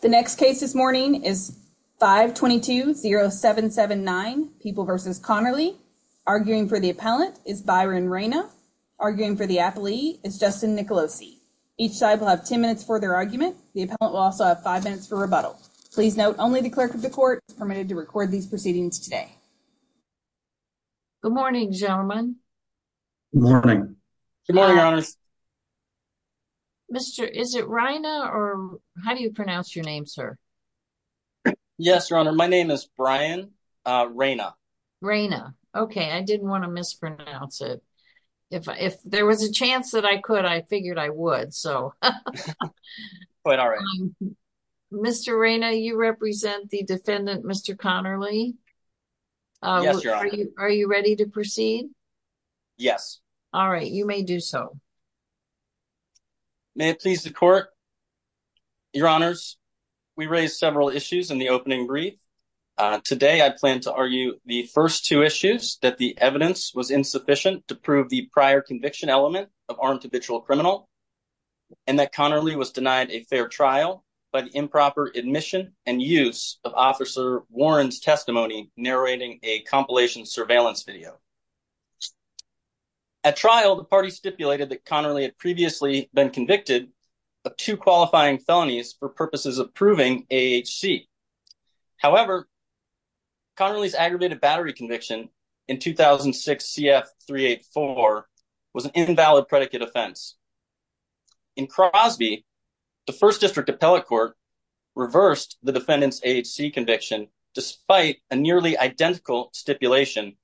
The next case this morning is 522-0779, People v. Conerly. Arguing for the appellant is Byron Reyna. Arguing for the appellee is Justin Nicolosi. Each side will have 10 minutes for their argument. The appellant will also have 5 minutes for rebuttal. Please note, only the clerk of the court is permitted to record these proceedings today. Good morning. Good morning, Your Honors. Mr. Is it Reyna or how do you pronounce your name, sir? Yes, Your Honor. My name is Byron Reyna. Reyna. Okay. I didn't want to mispronounce it. If there was a chance that I could, I figured I would. So Mr. Reyna, you represent the defendant, Mr. Conerly? Yes, Your Honor. Are you ready to proceed? Yes. All right. You may do so. May it please the court. Your Honors, we raised several issues in the opening brief. Today, I plan to argue the first two issues, that the evidence was insufficient to prove the prior conviction element of armed habitual criminal, and that Conerly was denied a fair trial by the improper admission and use of Officer Warren's testimony narrating a compilation surveillance video. At trial, the party stipulated that Conerly had previously been convicted of two qualifying felonies for purposes of proving AHC. However, Conerly's aggravated battery conviction in 2006 CF 384 was an invalid predicate offense. In Crosby, the First District Appellate Court reversed the defendant's AHC conviction, despite a nearly identical stipulation,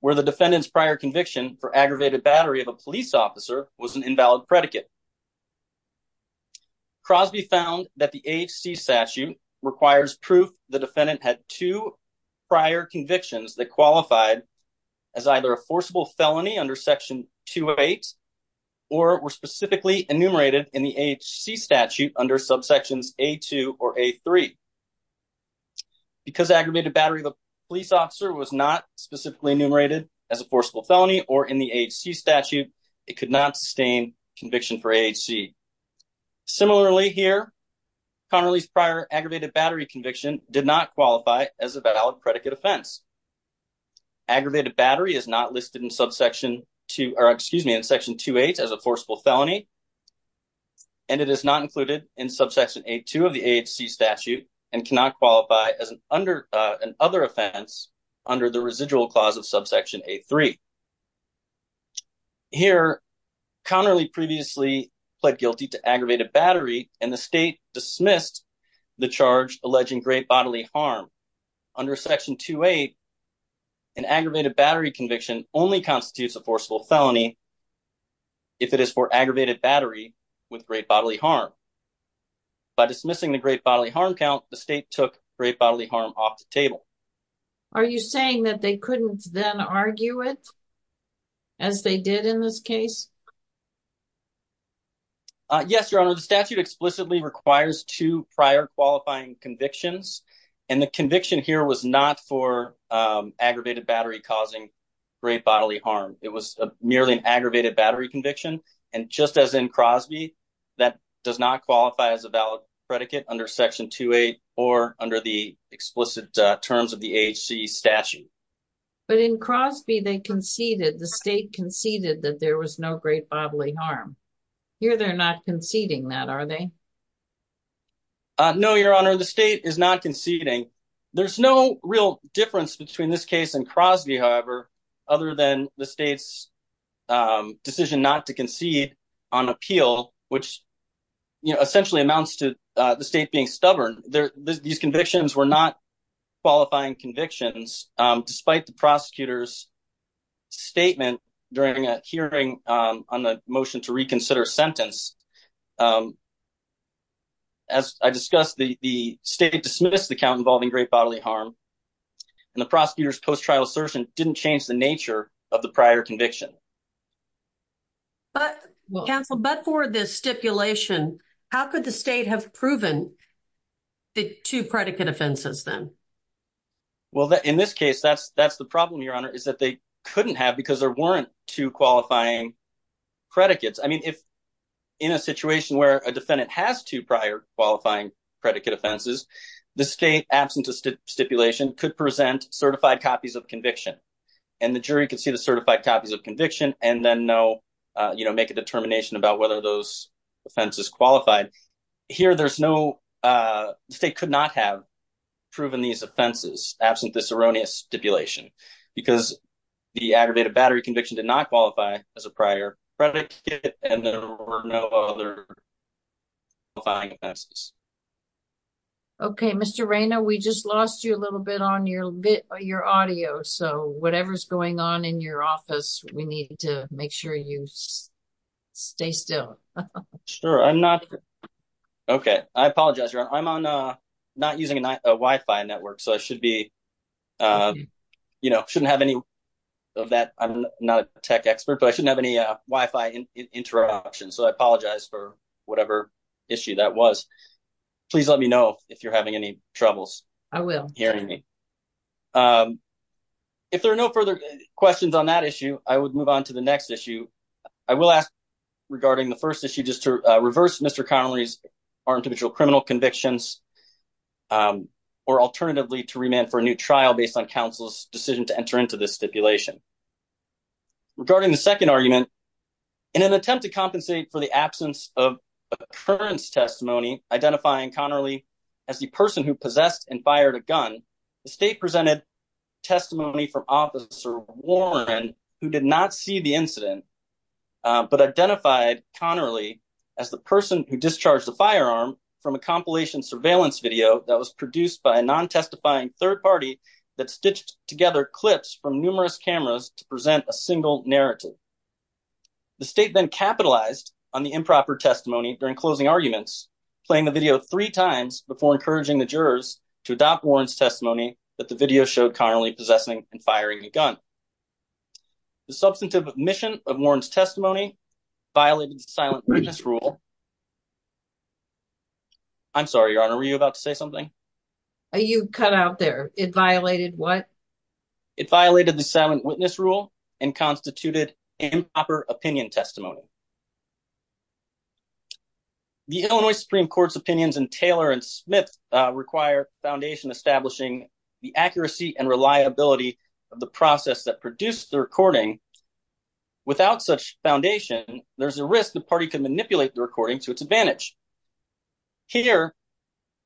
where the defendant's prior conviction for aggravated battery of a police officer was an invalid predicate. Crosby found that the AHC statute requires proof the defendant had two prior convictions that qualified as either a forcible felony under Section 208, or were specifically enumerated in the AHC statute under subsections A2 or A3. Because aggravated battery of a police officer was not specifically enumerated as a forcible felony or in the AHC statute, it could not sustain conviction for AHC. Similarly here, Conerly's prior aggravated battery conviction did not qualify as a valid predicate offense. Aggravated battery is not listed in subsection 2, or excuse me, in Section 2.8 as a forcible felony, and it is not included in subsection A2 of the AHC statute and cannot qualify as an under an other offense under the residual clause of subsection A3. Here, Conerly previously pled guilty to aggravated battery and the state dismissed the charge alleging great bodily harm. Under Section 2.8, an aggravated battery conviction only constitutes a forcible felony if it is for aggravated battery with great bodily harm. By dismissing the great bodily harm count, the state took great bodily harm off the table. Are you saying that they couldn't then argue it as they did in this case? Yes, Your Honor. The statute explicitly requires two prior qualifying convictions, and the conviction here was not for aggravated battery causing great bodily harm. It was merely an aggravated battery conviction, and just as in Crosby, that does not qualify as a valid predicate under Section 2.8 or under the explicit terms of the AHC statute. But in Crosby, they conceded, the state conceded that there was no great bodily harm. Here, they're not conceding that, are they? No, Your Honor. The state is not conceding. There's no real difference between this case and Crosby, however, other than the state's decision not to concede on appeal, which essentially amounts to the state being stubborn. These convictions were not qualifying convictions, despite the prosecutor's statement during a hearing on the motion to reconsider sentence. As I discussed, the state dismissed the count involving great bodily harm, and the prosecutor's post-trial assertion didn't change the nature of the prior conviction. But, counsel, but for this stipulation, how could the state have proven the two predicate offenses, then? Well, in this case, that's the problem, Your Honor, is that they couldn't have because there weren't two qualifying predicates. I mean, if in a situation where a defendant has two prior qualifying predicate offenses, the state, absent of stipulation, could present certified copies of conviction, and the jury could see the certified copies of conviction and then make a determination about whether those offenses qualified. Here, the state could not have proven these offenses, absent this erroneous stipulation, because the aggravated battery conviction did not qualify as a prior predicate, and there were no other qualifying offenses. Okay, Mr. Reyna, we just lost you a little bit on your audio, so whatever's going on in your office, we need to make sure you stay still. Sure, I'm not, okay, I apologize, Your Honor, I'm not using a Wi-Fi network, so I should be, you know, shouldn't have any of that. I'm not a tech expert, but I shouldn't have any interruptions, so I apologize for whatever issue that was. Please let me know if you're having any troubles. I will. Hearing me. If there are no further questions on that issue, I would move on to the next issue. I will ask regarding the first issue just to reverse Mr. Connery's armed to mutual criminal convictions, or alternatively to remand for a new trial based on counsel's decision to enter into this stipulation. Regarding the second argument, in an attempt to compensate for the absence of occurrence testimony identifying Connerly as the person who possessed and fired a gun, the state presented testimony from Officer Warren, who did not see the incident, but identified Connerly as the person who discharged the firearm from a compilation surveillance video that was produced by a non-testifying third party that stitched together clips from numerous cameras to present a single narrative. The state then capitalized on the improper testimony during closing arguments, playing the video three times before encouraging the jurors to adopt Warren's testimony that the video showed Connerly possessing and firing a gun. The substantive omission of Warren's testimony violated the silent witness rule. I'm sorry, Your Honor, were you about to say something? Are you cut out there? It violated what? It violated the silent witness rule and constituted improper opinion testimony. The Illinois Supreme Court's opinions in Taylor and Smith require the foundation establishing the accuracy and reliability of the process that produced the recording. Without such foundation, there's a risk the party could manipulate the recording to its advantage. Here,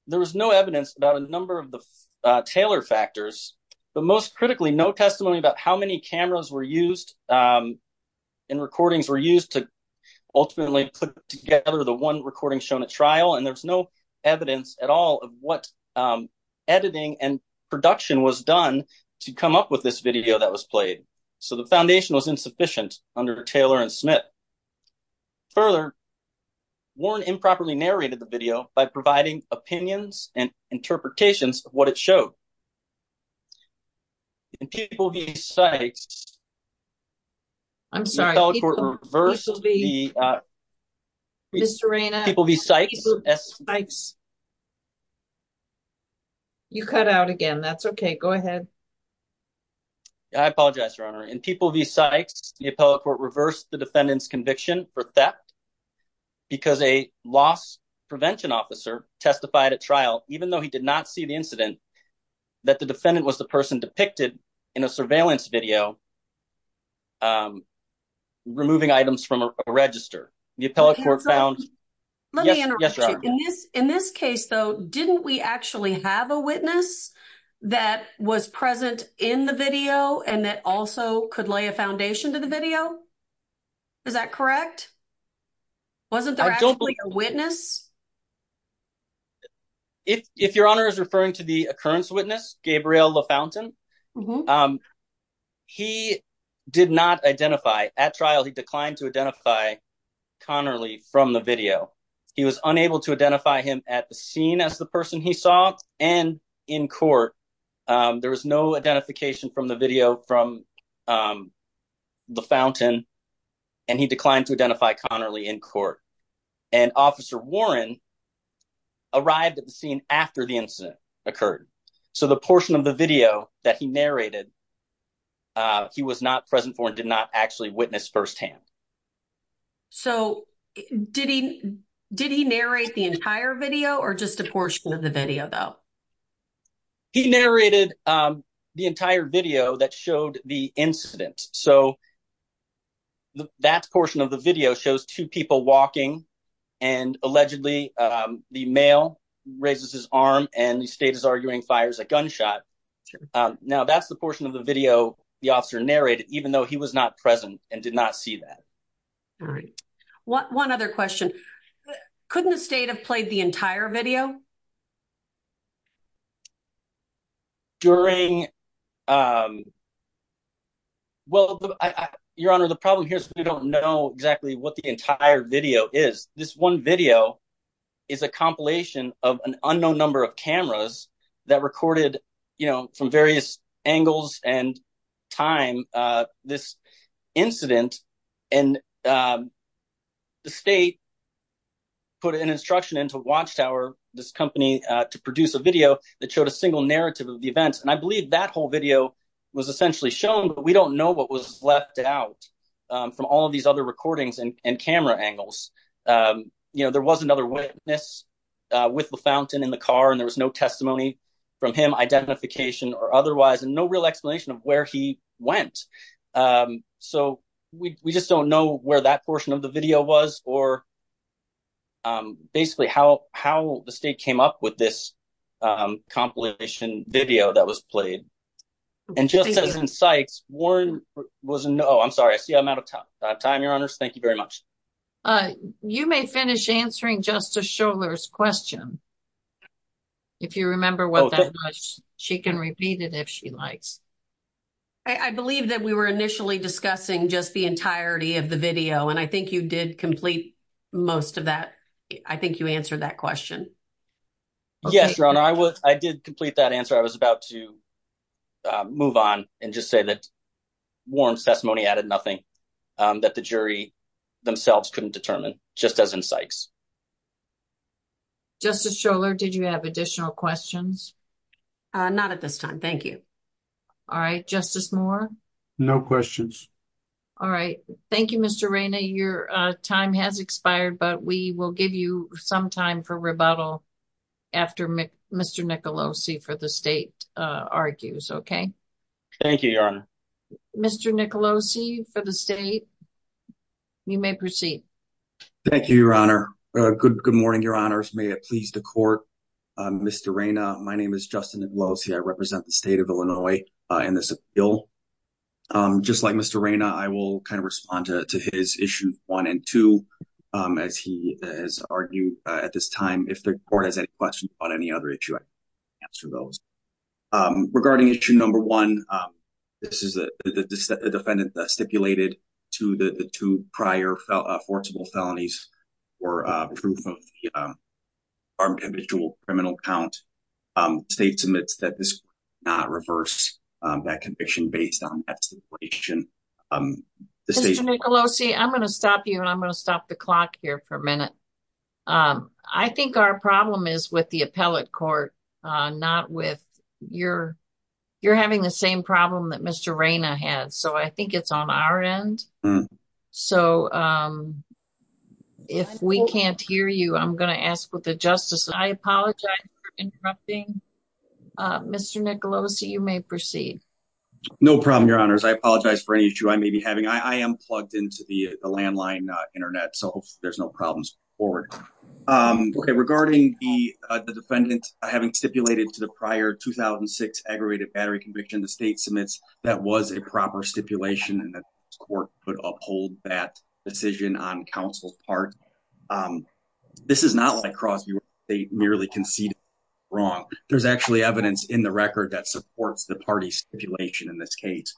there was no evidence about a number of the Taylor factors, but most critically, no testimony about how many cameras were used and recordings were used to ultimately put together the one recording shown at trial, and there's no evidence at all of what editing and production was done to come up with this video that was played. So the foundation was insufficient under Taylor and Smith. Further, Warren improperly narrated the video by providing opinions and interpretations of what it showed. In People v. Sykes, the appellate court reversed the video. In this case, though, didn't we actually have a witness that was present in the video and that also could lay a foundation to the video? Is that correct? Wasn't there actually a witness? If your honor is referring to the occurrence witness, Gabriel LaFountain, he did not identify at trial. He declined to identify Connerly from the video. He was unable to identify him at the scene as the person he saw and in court. There was no identification from the video from LaFountain, and he declined to identify Connerly in court. Officer Warren arrived at the scene after the incident occurred, so the portion of the video that he narrated, he was not present for and did not actually witness firsthand. So did he narrate the entire video or just a portion of the video, though? He narrated the entire video that showed the incident. So that portion of the video shows two people walking and allegedly the male raises his arm and the state is arguing fires a gunshot. Now that's the portion of the video the officer narrated even though he was not present and did not see that. All right. One other question. Couldn't the state have played the entire video? During, well, Your Honor, the problem here is we don't know exactly what the entire video is. This one video is a compilation of an unknown number of cameras that recorded, you know, from various angles and time this incident, and the state put an instruction into Watchtower, this company, to produce a video that showed a single narrative of the events. And I believe that whole video was essentially shown, but we don't know what was left out from all of these other recordings and camera angles. You know, there was another witness with the fountain in the car and there was no testimony from him, identification or otherwise, and no real explanation of where he went. So we just don't know where that portion of the video was or basically how the state came up with this compilation video that was played. And just as in Sykes, Warren was, oh, I'm sorry, I see I'm out of time, Your Honors. Thank you very much. You may finish answering Justice Schorler's question, if you remember what that was. She can repeat it if she likes. I believe that we were initially discussing just the entirety of the I think you answered that question. Yes, Your Honor. I did complete that answer. I was about to move on and just say that Warren's testimony added nothing that the jury themselves couldn't determine, just as in Sykes. Justice Schorler, did you have additional questions? Not at this time. Thank you. All right. Justice Moore? No questions. All right. Thank you, Mr. Reyna. Your time has expired, but we will give you some time for rebuttal after Mr. Nicolosi for the state argues, okay? Thank you, Your Honor. Mr. Nicolosi for the state, you may proceed. Thank you, Your Honor. Good morning, Your Honors. May it please the court. Mr. Reyna, my name is Justin Nicolosi. I represent the state of Illinois in this appeal. Just like Mr. Reyna, I will kind of respond to his issue one and two, as he has argued at this time. If the court has any questions on any other issue, I can answer those. Regarding issue number one, this is a defendant that stipulated to the two prior forcible felonies for proof of the armed individual criminal count. State submits that this not reverse that conviction based on that situation. Mr. Nicolosi, I'm going to stop you and I'm going to stop the clock here for a minute. I think our problem is with the appellate court, not with your, you're having the same problem that Mr. Reyna had. So I think it's on our end. So if we can't hear you, I'm going to ask for the interrupting. Mr. Nicolosi, you may proceed. No problem, Your Honors. I apologize for any issue I may be having. I am plugged into the landline internet, so there's no problems. Okay, regarding the defendant having stipulated to the prior 2006 aggravated battery conviction, the state submits that was a proper stipulation and that court could uphold that decision on counsel's part. This is not like Crosby where they merely conceded wrong. There's actually evidence in the record that supports the party stipulation in this case.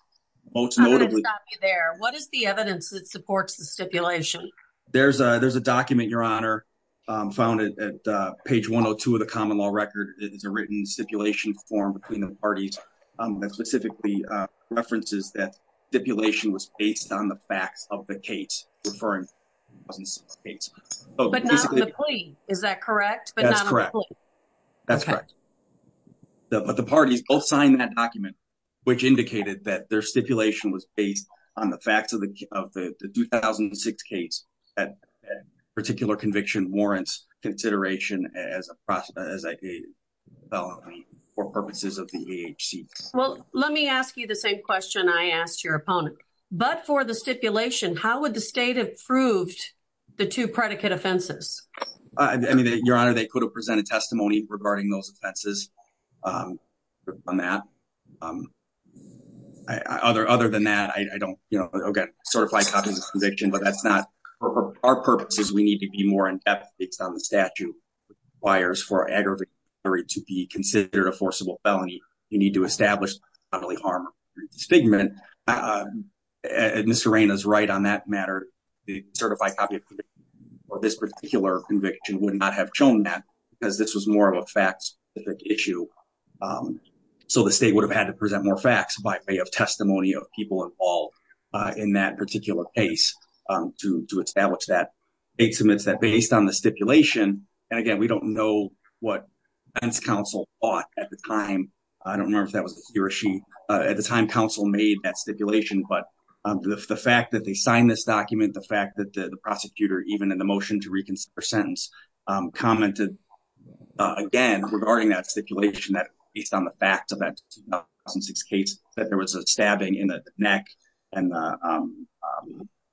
I'm going to stop you there. What is the evidence that supports the stipulation? There's a document, Your Honor, found at page 102 of the common law record. It is a written stipulation form between the parties that references that stipulation was based on the facts of the case referring to the 2006 case. Is that correct? That's correct. But the parties both signed that document, which indicated that their stipulation was based on the facts of the 2006 case. Particular conviction warrants consideration as a process for purposes of the AHC. Well, let me ask you the same question I asked your opponent. But for the stipulation, how would the state have proved the two predicate offenses? I mean, Your Honor, they could have presented testimony regarding those offenses on that. Other than that, I don't, you know, get certified copies of conviction, but that's not our purposes. We need to be more in depth based on the statute requires for aggravated battery to be considered a forcible felony. You need to establish bodily harm. Mr. Raina is right on that matter. The certified copy of this particular conviction would not have shown that because this was more of a fact-specific issue. So the state would have had to present more facts by way of testimony of people involved in that particular case to establish that. Based on the stipulation, and again, we don't know what the defense counsel thought at the time. I don't remember if that was he or she. At the time, counsel made that stipulation. But the fact that they signed this document, the fact that the prosecutor, even in the motion to reconsider sentence, commented again regarding that stipulation that based on the facts of that 2006 case, that there was a stabbing in the neck and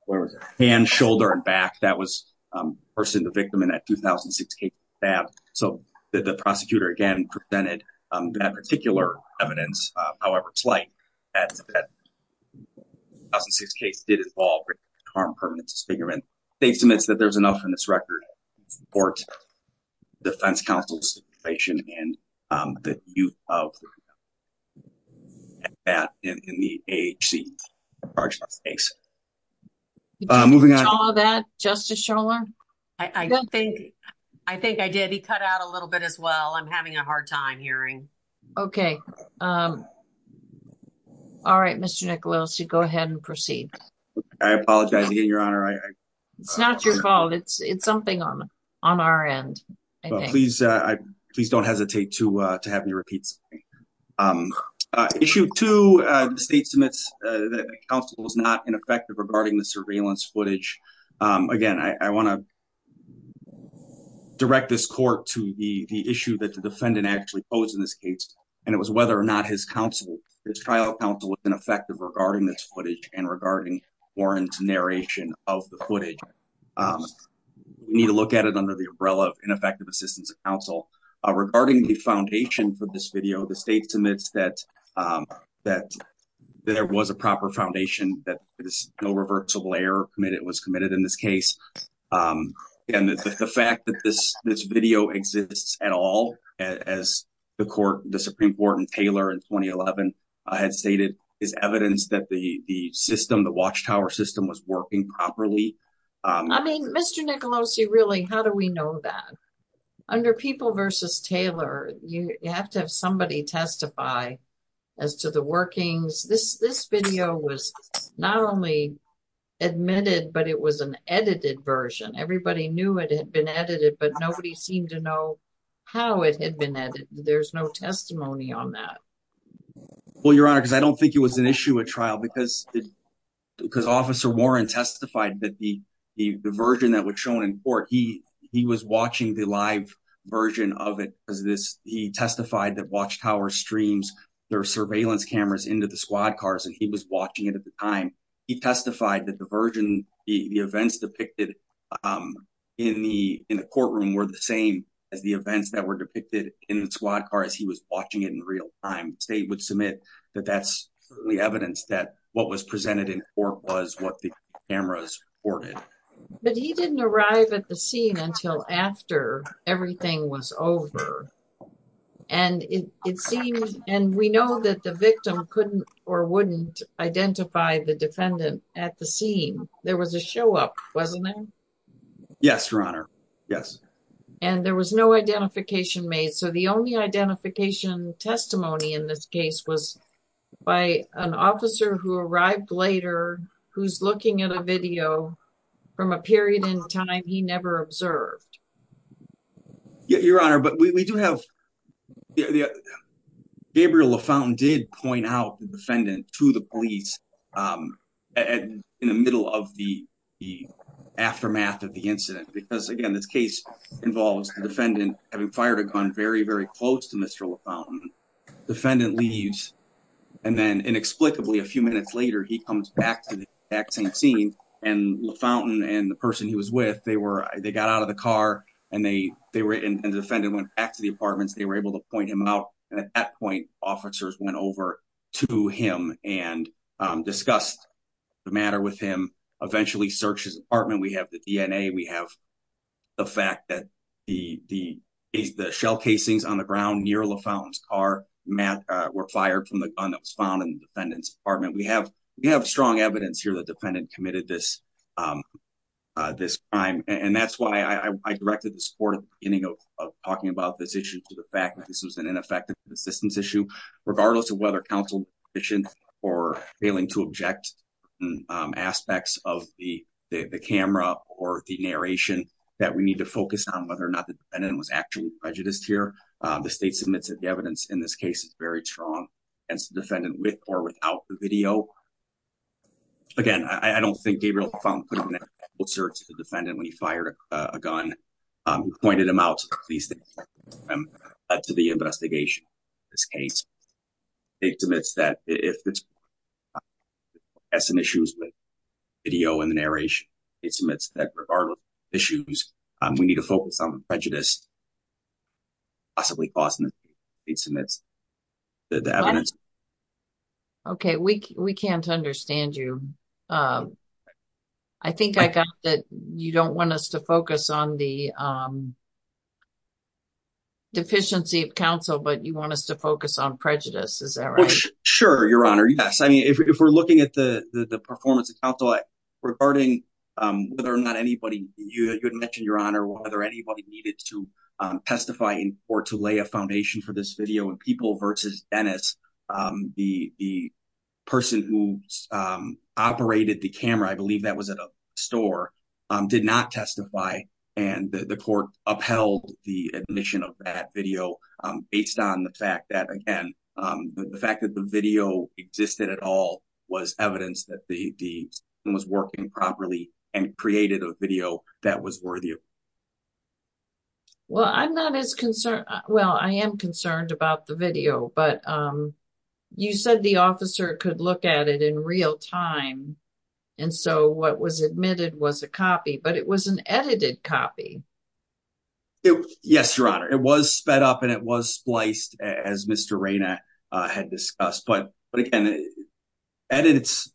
where was it? Hand, shoulder, and back. That was the person, the victim in that 2006 stab. So the prosecutor again presented that particular evidence, however slight, that 2006 case did involve harm permanent disfigurement. The state submits that there's enough in this case. Moving on. I think I did. He cut out a little bit as well. I'm having a hard time hearing. Okay. All right, Mr. Nicolosi, go ahead and proceed. I apologize again, Your Honor. It's not your fault. It's something on our end. Please don't hesitate to have me repeat. Um, uh, issue two, uh, the state submits, uh, that counsel was not ineffective regarding the surveillance footage. Um, again, I, I want to direct this court to the issue that the defendant actually posed in this case. And it was whether or not his counsel, his trial counsel was ineffective regarding this footage and regarding Warren's narration of the footage. Um, we need to look at it under the umbrella of ineffective assistance of counsel, uh, regarding the foundation for this video, the state submits that, um, that there was a proper foundation, that it is no reversible error committed was committed in this case. Um, and the fact that this, this video exists at all, as the court, the Supreme court and Taylor in 2011, I had stated is evidence that the, the system, the watchtower system was working properly. I mean, Mr. Nicolosi, really, how do we know that under people versus Taylor, you have to have somebody testify as to the workings. This, this video was not only admitted, but it was an edited version. Everybody knew it had been edited, but nobody seemed to know how it had been edited. There's no testimony on that. Well, Your Honor, because I don't think it was an issue at trial because, because officer Warren testified that the, the, the version that was shown in court, he, he was watching the live version of it because of this, he testified that watchtower streams, their surveillance cameras into the squad cars, and he was watching it at the time. He testified that the version, the events depicted, um, in the, in the courtroom were the same as the events that were depicted in the squad cars. He was watching it in real time. State would submit that that's the evidence that what was presented in court was what the cameras recorded. But he didn't arrive at the scene until after everything was over. And it, it seems, and we know that the victim couldn't or wouldn't identify the defendant at the scene. There was a show up, wasn't there? Yes, Your Honor. Yes. And there was no testimony in this case was by an officer who arrived later, who's looking at a video from a period in time. He never observed. Yeah, Your Honor. But we do have Gabriel Lafontaine did point out the defendant to the police. Um, and in the middle of the, the aftermath of the incident, because again, this case involves the defendant having fired a gun very, very close to Mr. Lafontaine. Defendant leaves. And then inexplicably, a few minutes later, he comes back to the exact same scene and Lafontaine and the person he was with, they were, they got out of the car and they, they were in the defendant went back to the apartments. They were able to point him out. And at that point, officers went over to him and discussed the matter with him. Eventually searched his apartment. We have the DNA. We have the fact that the, the, the shell casings on the ground near Lafontaine's car, Matt, uh, were fired from the gun that was found in the defendant's apartment. We have, we have strong evidence here that defendant committed this, um, uh, this crime. And that's why I directed the support of getting out of talking about this issue to the fact that this was an ineffective assistance issue, regardless of whether counsel mission or failing to object, um, aspects of the camera or the narration that we need to focus on whether or not the defendant was actually prejudiced here. Um, the state submits that the evidence in this case is very strong as the defendant with or without the video. Again, I don't think Gabriel found the defendant when he fired a gun, um, pointed him out to the investigation. This case it's admits that if it's as an issues with video and the narration, it's admits that regardless of issues, um, we need to focus on the prejudice possibly causing it. It submits the evidence. Okay. We, we can't understand you. Um, I think I got that. You don't want us to focus on the, um, deficiency of counsel, but you want us to focus on prejudice. Is that right? Sure. Your honor. Yes. I mean, if we're, if we're looking at the, the, the performance of counsel regarding, um, whether or not anybody you had mentioned your honor, whether anybody needed to testify or to lay a foundation for this video and people versus Dennis, um, the, the person who, um, operated the camera, I believe that was at a store, um, did not testify. And the court upheld the admission of that video, um, based on the fact that again, um, the fact that the video existed at all was evidence that the, the was working properly and created a video that was worth you. Well, I'm not as concerned. Well, I am concerned about the video, but, um, you said the officer could look at it in real time. And so what was admitted was a copy, but it was an edited copy. It was, yes, your honor. It was sped up and it was spliced as Mr. Raina, uh, had discussed, but, but again, edits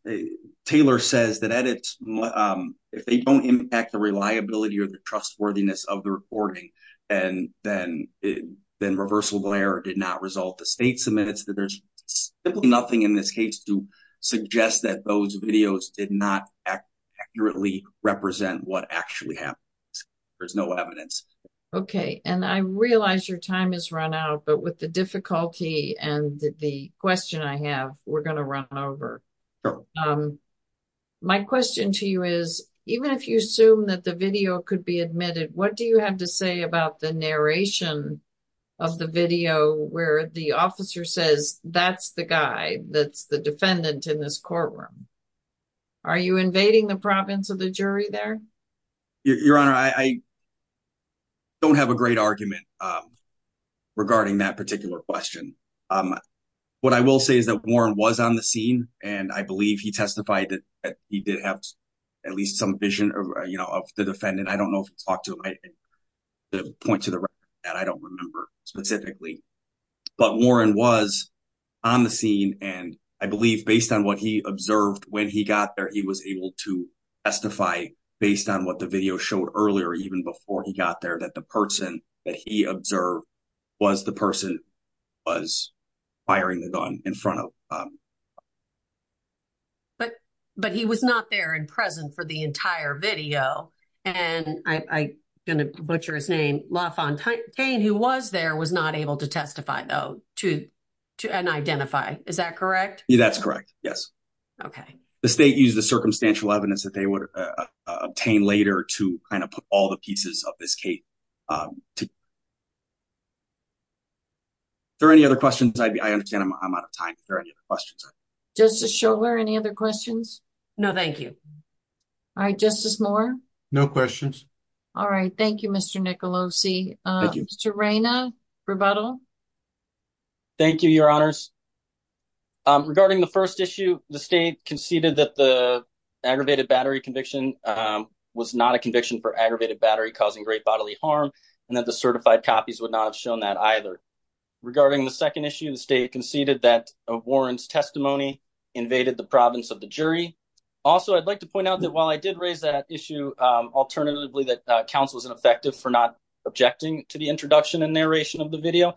Taylor says that edits, um, if they don't impact the reliability or the trustworthiness of the recording, and then it then reversal glare did not result to state submits that there's nothing in this case to suggest that those videos did not accurately represent what actually happened. There's no evidence. Okay. And I realize your time is run out, but with the difficulty and the question I have, we're going to run over. Um, my question to you is even if you assume that the video could be admitted, what do you have to say about the narration of the video where the officer says, that's the guy that's the defendant in this jury there? Your honor, I don't have a great argument, um, regarding that particular question. Um, what I will say is that Warren was on the scene and I believe he testified that he did have at least some vision of, you know, of the defendant. I don't know if he talked to him. The point to the record that I don't remember specifically, but Warren was on the scene. And I believe based on what he observed when he got there, he was able to testify based on what the video showed earlier, even before he got there, that the person that he observed was the person was firing the gun in front of, um, but, but he was not there in present for the entire video. And I going to butcher his name who was there was not able to testify though to, to an identify. Is that correct? That's correct. Yes. Okay. The state used the circumstantial evidence that they would obtain later to kind of put all the pieces of this case. Um, is there any other questions? I understand I'm out of time. If there are any other questions, just to show where any other questions? No, thank you. All right. Justice Moore. No questions. All right. Thank you, Mr. Nicolosi. Uh, Mr. Reina rebuttal. Thank you, your honors. Um, regarding the first issue, the state conceded that the aggravated battery conviction, um, was not a conviction for aggravated battery causing great bodily harm and that the certified copies would not have shown that either regarding the second issue, the state conceded that a Warren's testimony invaded the province of the jury. Also, I'd like to point out that while I did raise that issue, um, alternatively, that a council was ineffective for not objecting to the introduction and narration of the video.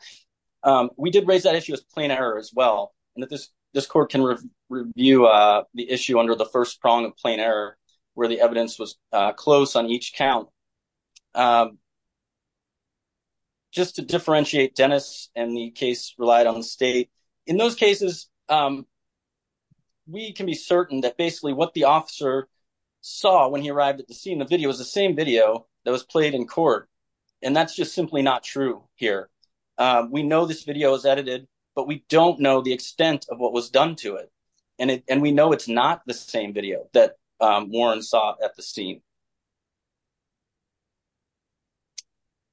Um, we did raise that issue as plain error as well. And that this, this court can review, uh, the issue under the first prong of plain error where the evidence was close on each count. Um, just to differentiate Dennis and the case relied on the state in those cases. Um, we can be certain that basically what the officer saw when he arrived at the scene, the video is the same video that was played in court. And that's just simply not true here. Um, we know this video is edited, but we don't know the extent of what was done to it. And it, and we know it's not the same video that, um, Warren saw at the scene.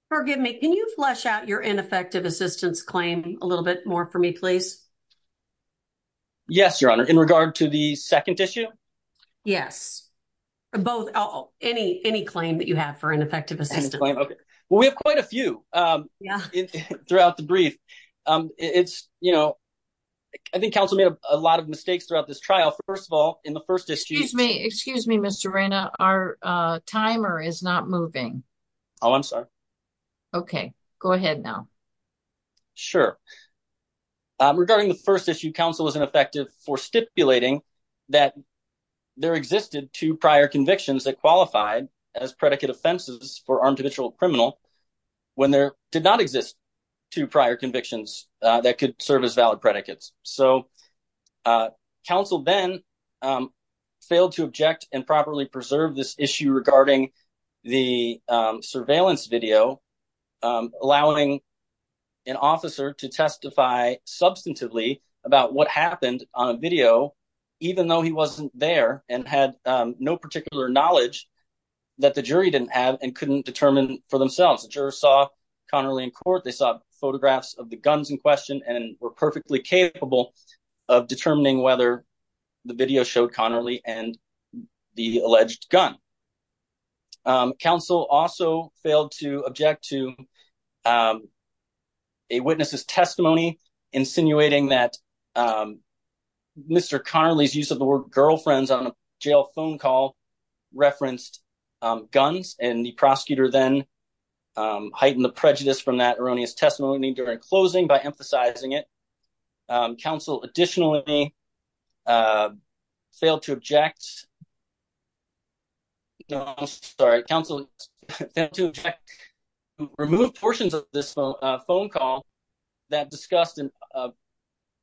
Forgive me. Can you flesh out your ineffective assistance claim a little bit more for me, please? Yes. Your honor. In regard to the second issue. Yes. Both. Oh, any, any claim that you have for an effective assistant? Okay. Well, we have quite a few, um, throughout the brief. Um, it's, you know, I think council made a lot of mistakes throughout this trial. First of all, in the first issue, excuse me, excuse me, Mr. Raina, our, uh, Okay, go ahead now. Sure. Um, regarding the first issue council was ineffective for stipulating that there existed two prior convictions that qualified as predicate offenses for armed habitual criminal when there did not exist two prior convictions that could serve as valid predicates. So, uh, council then, um, failed to object and properly preserve this issue regarding the, um, surveillance video, um, allowing an officer to testify substantively about what happened on a video, even though he wasn't there and had, um, no particular knowledge that the jury didn't have and couldn't determine for themselves. The juror saw Connerly in court, they saw photographs of the guns in question and were perfectly capable of determining whether the video showed Connerly and the alleged gun. Um, council also failed to object to, um, a witness's testimony insinuating that, um, Mr. Connerly's use of the word girlfriends on a jail phone call referenced, um, guns and the prosecutor then, um, heightened the additional, uh, failed to object. No, I'm sorry. Council to remove portions of this phone call that discussed in a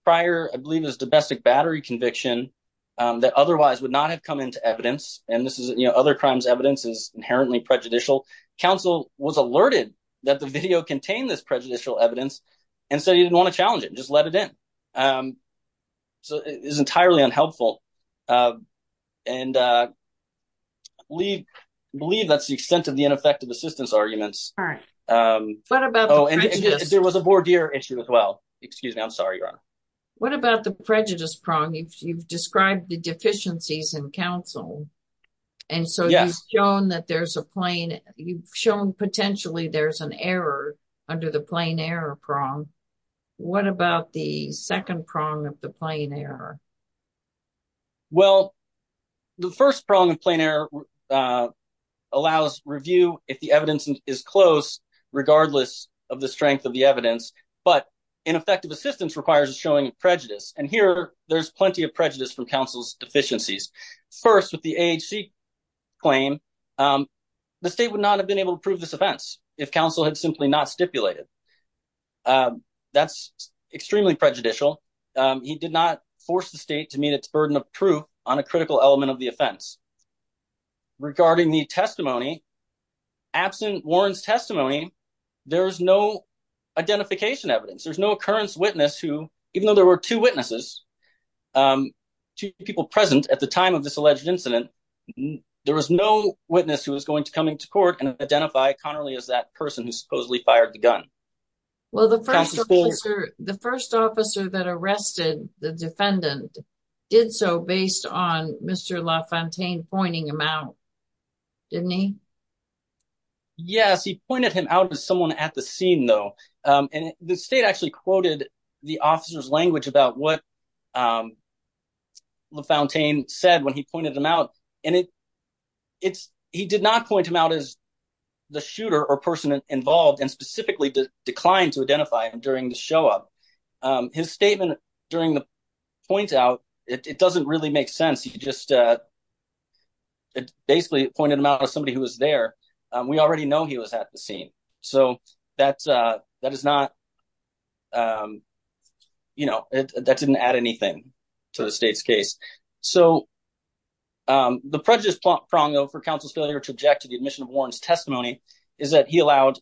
prior, I believe is domestic battery conviction, um, that otherwise would not have come into evidence. And this is, you know, other crimes. Evidence is inherently prejudicial. Council was alerted that the video contained this prejudicial evidence. And so you didn't want to challenge it. Just let it in. Um, so it is entirely unhelpful. Uh, and, uh, we believe that's the extent of the ineffective assistance arguments. Um, there was a board here issue as well. Excuse me. I'm sorry, Your Honor. What about the prejudice prong? You've, you've described the deficiencies in council. And so you've shown that there's a plain, you've shown potentially there's an error under the plain error prong. What about the second prong of the plain error? Well, the first prong of plain error, uh, allows review. If the evidence is close, regardless of the strength of the evidence, but ineffective assistance requires a showing of prejudice. And here there's plenty of prejudice from council's deficiencies. First with the AHC claim, um, the state would not have been able to prove this offense if council had simply not stipulated. Um, that's extremely prejudicial. Um, he did not force the state to meet its burden of proof on a critical element of the offense regarding the testimony. Absent Warren's testimony, there is no identification evidence. There's no occurrence witness who, even though there were two witnesses, um, two people present at the time of this alleged incident, there was no witness who was going to come into court and identify Connerly as that person who supposedly fired the gun. Well, the first officer, the first officer that arrested the defendant did so based on Mr. LaFontaine pointing him out, didn't he? Yes, he pointed him out as someone at the scene though. Um, and the state actually quoted the officer's language about what, um, LaFontaine said when he pointed him out and it, it's, he did not point him out as the shooter or person involved and specifically declined to identify him during the show up. Um, his statement during the point out, it doesn't really make sense. He just, uh, basically pointed him out as somebody who was there. Um, we already know he was at the scene. So that's, uh, that is not, um, you know, that didn't add anything to the state's case. So, um, the prejudice prong though for counsel's failure to object to the admission of Warren's testimony is that he allowed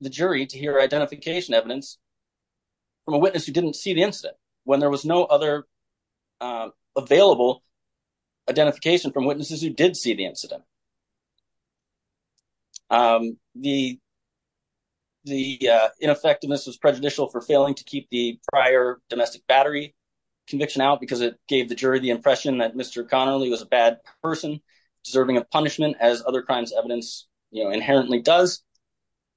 the jury to hear identification evidence from a witness who didn't see the incident when there was no other, um, available identification from witnesses who did see the the, uh, ineffectiveness was prejudicial for failing to keep the prior domestic battery conviction out because it gave the jury the impression that Mr. Connerly was a bad person deserving of punishment as other crimes evidence, you know, inherently does.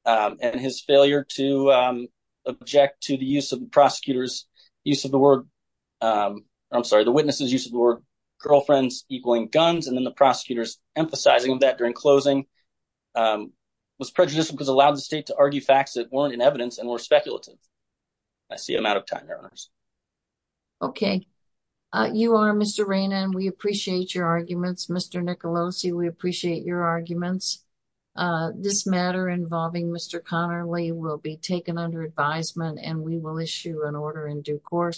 Um, and his failure to, um, object to the use of the prosecutor's use of the word, um, I'm sorry, the witnesses use of the word girlfriends equaling guns. And then the prosecutors emphasizing that during closing, um, was prejudicial because allowed the state to argue facts that weren't in evidence and were speculative. I see I'm out of time. Okay, you are Mr. Rain and we appreciate your arguments. Mr. Nicolosi, we appreciate your arguments. Uh, this matter involving Mr. Connerly will be taken under advisement and we will issue an order in due course.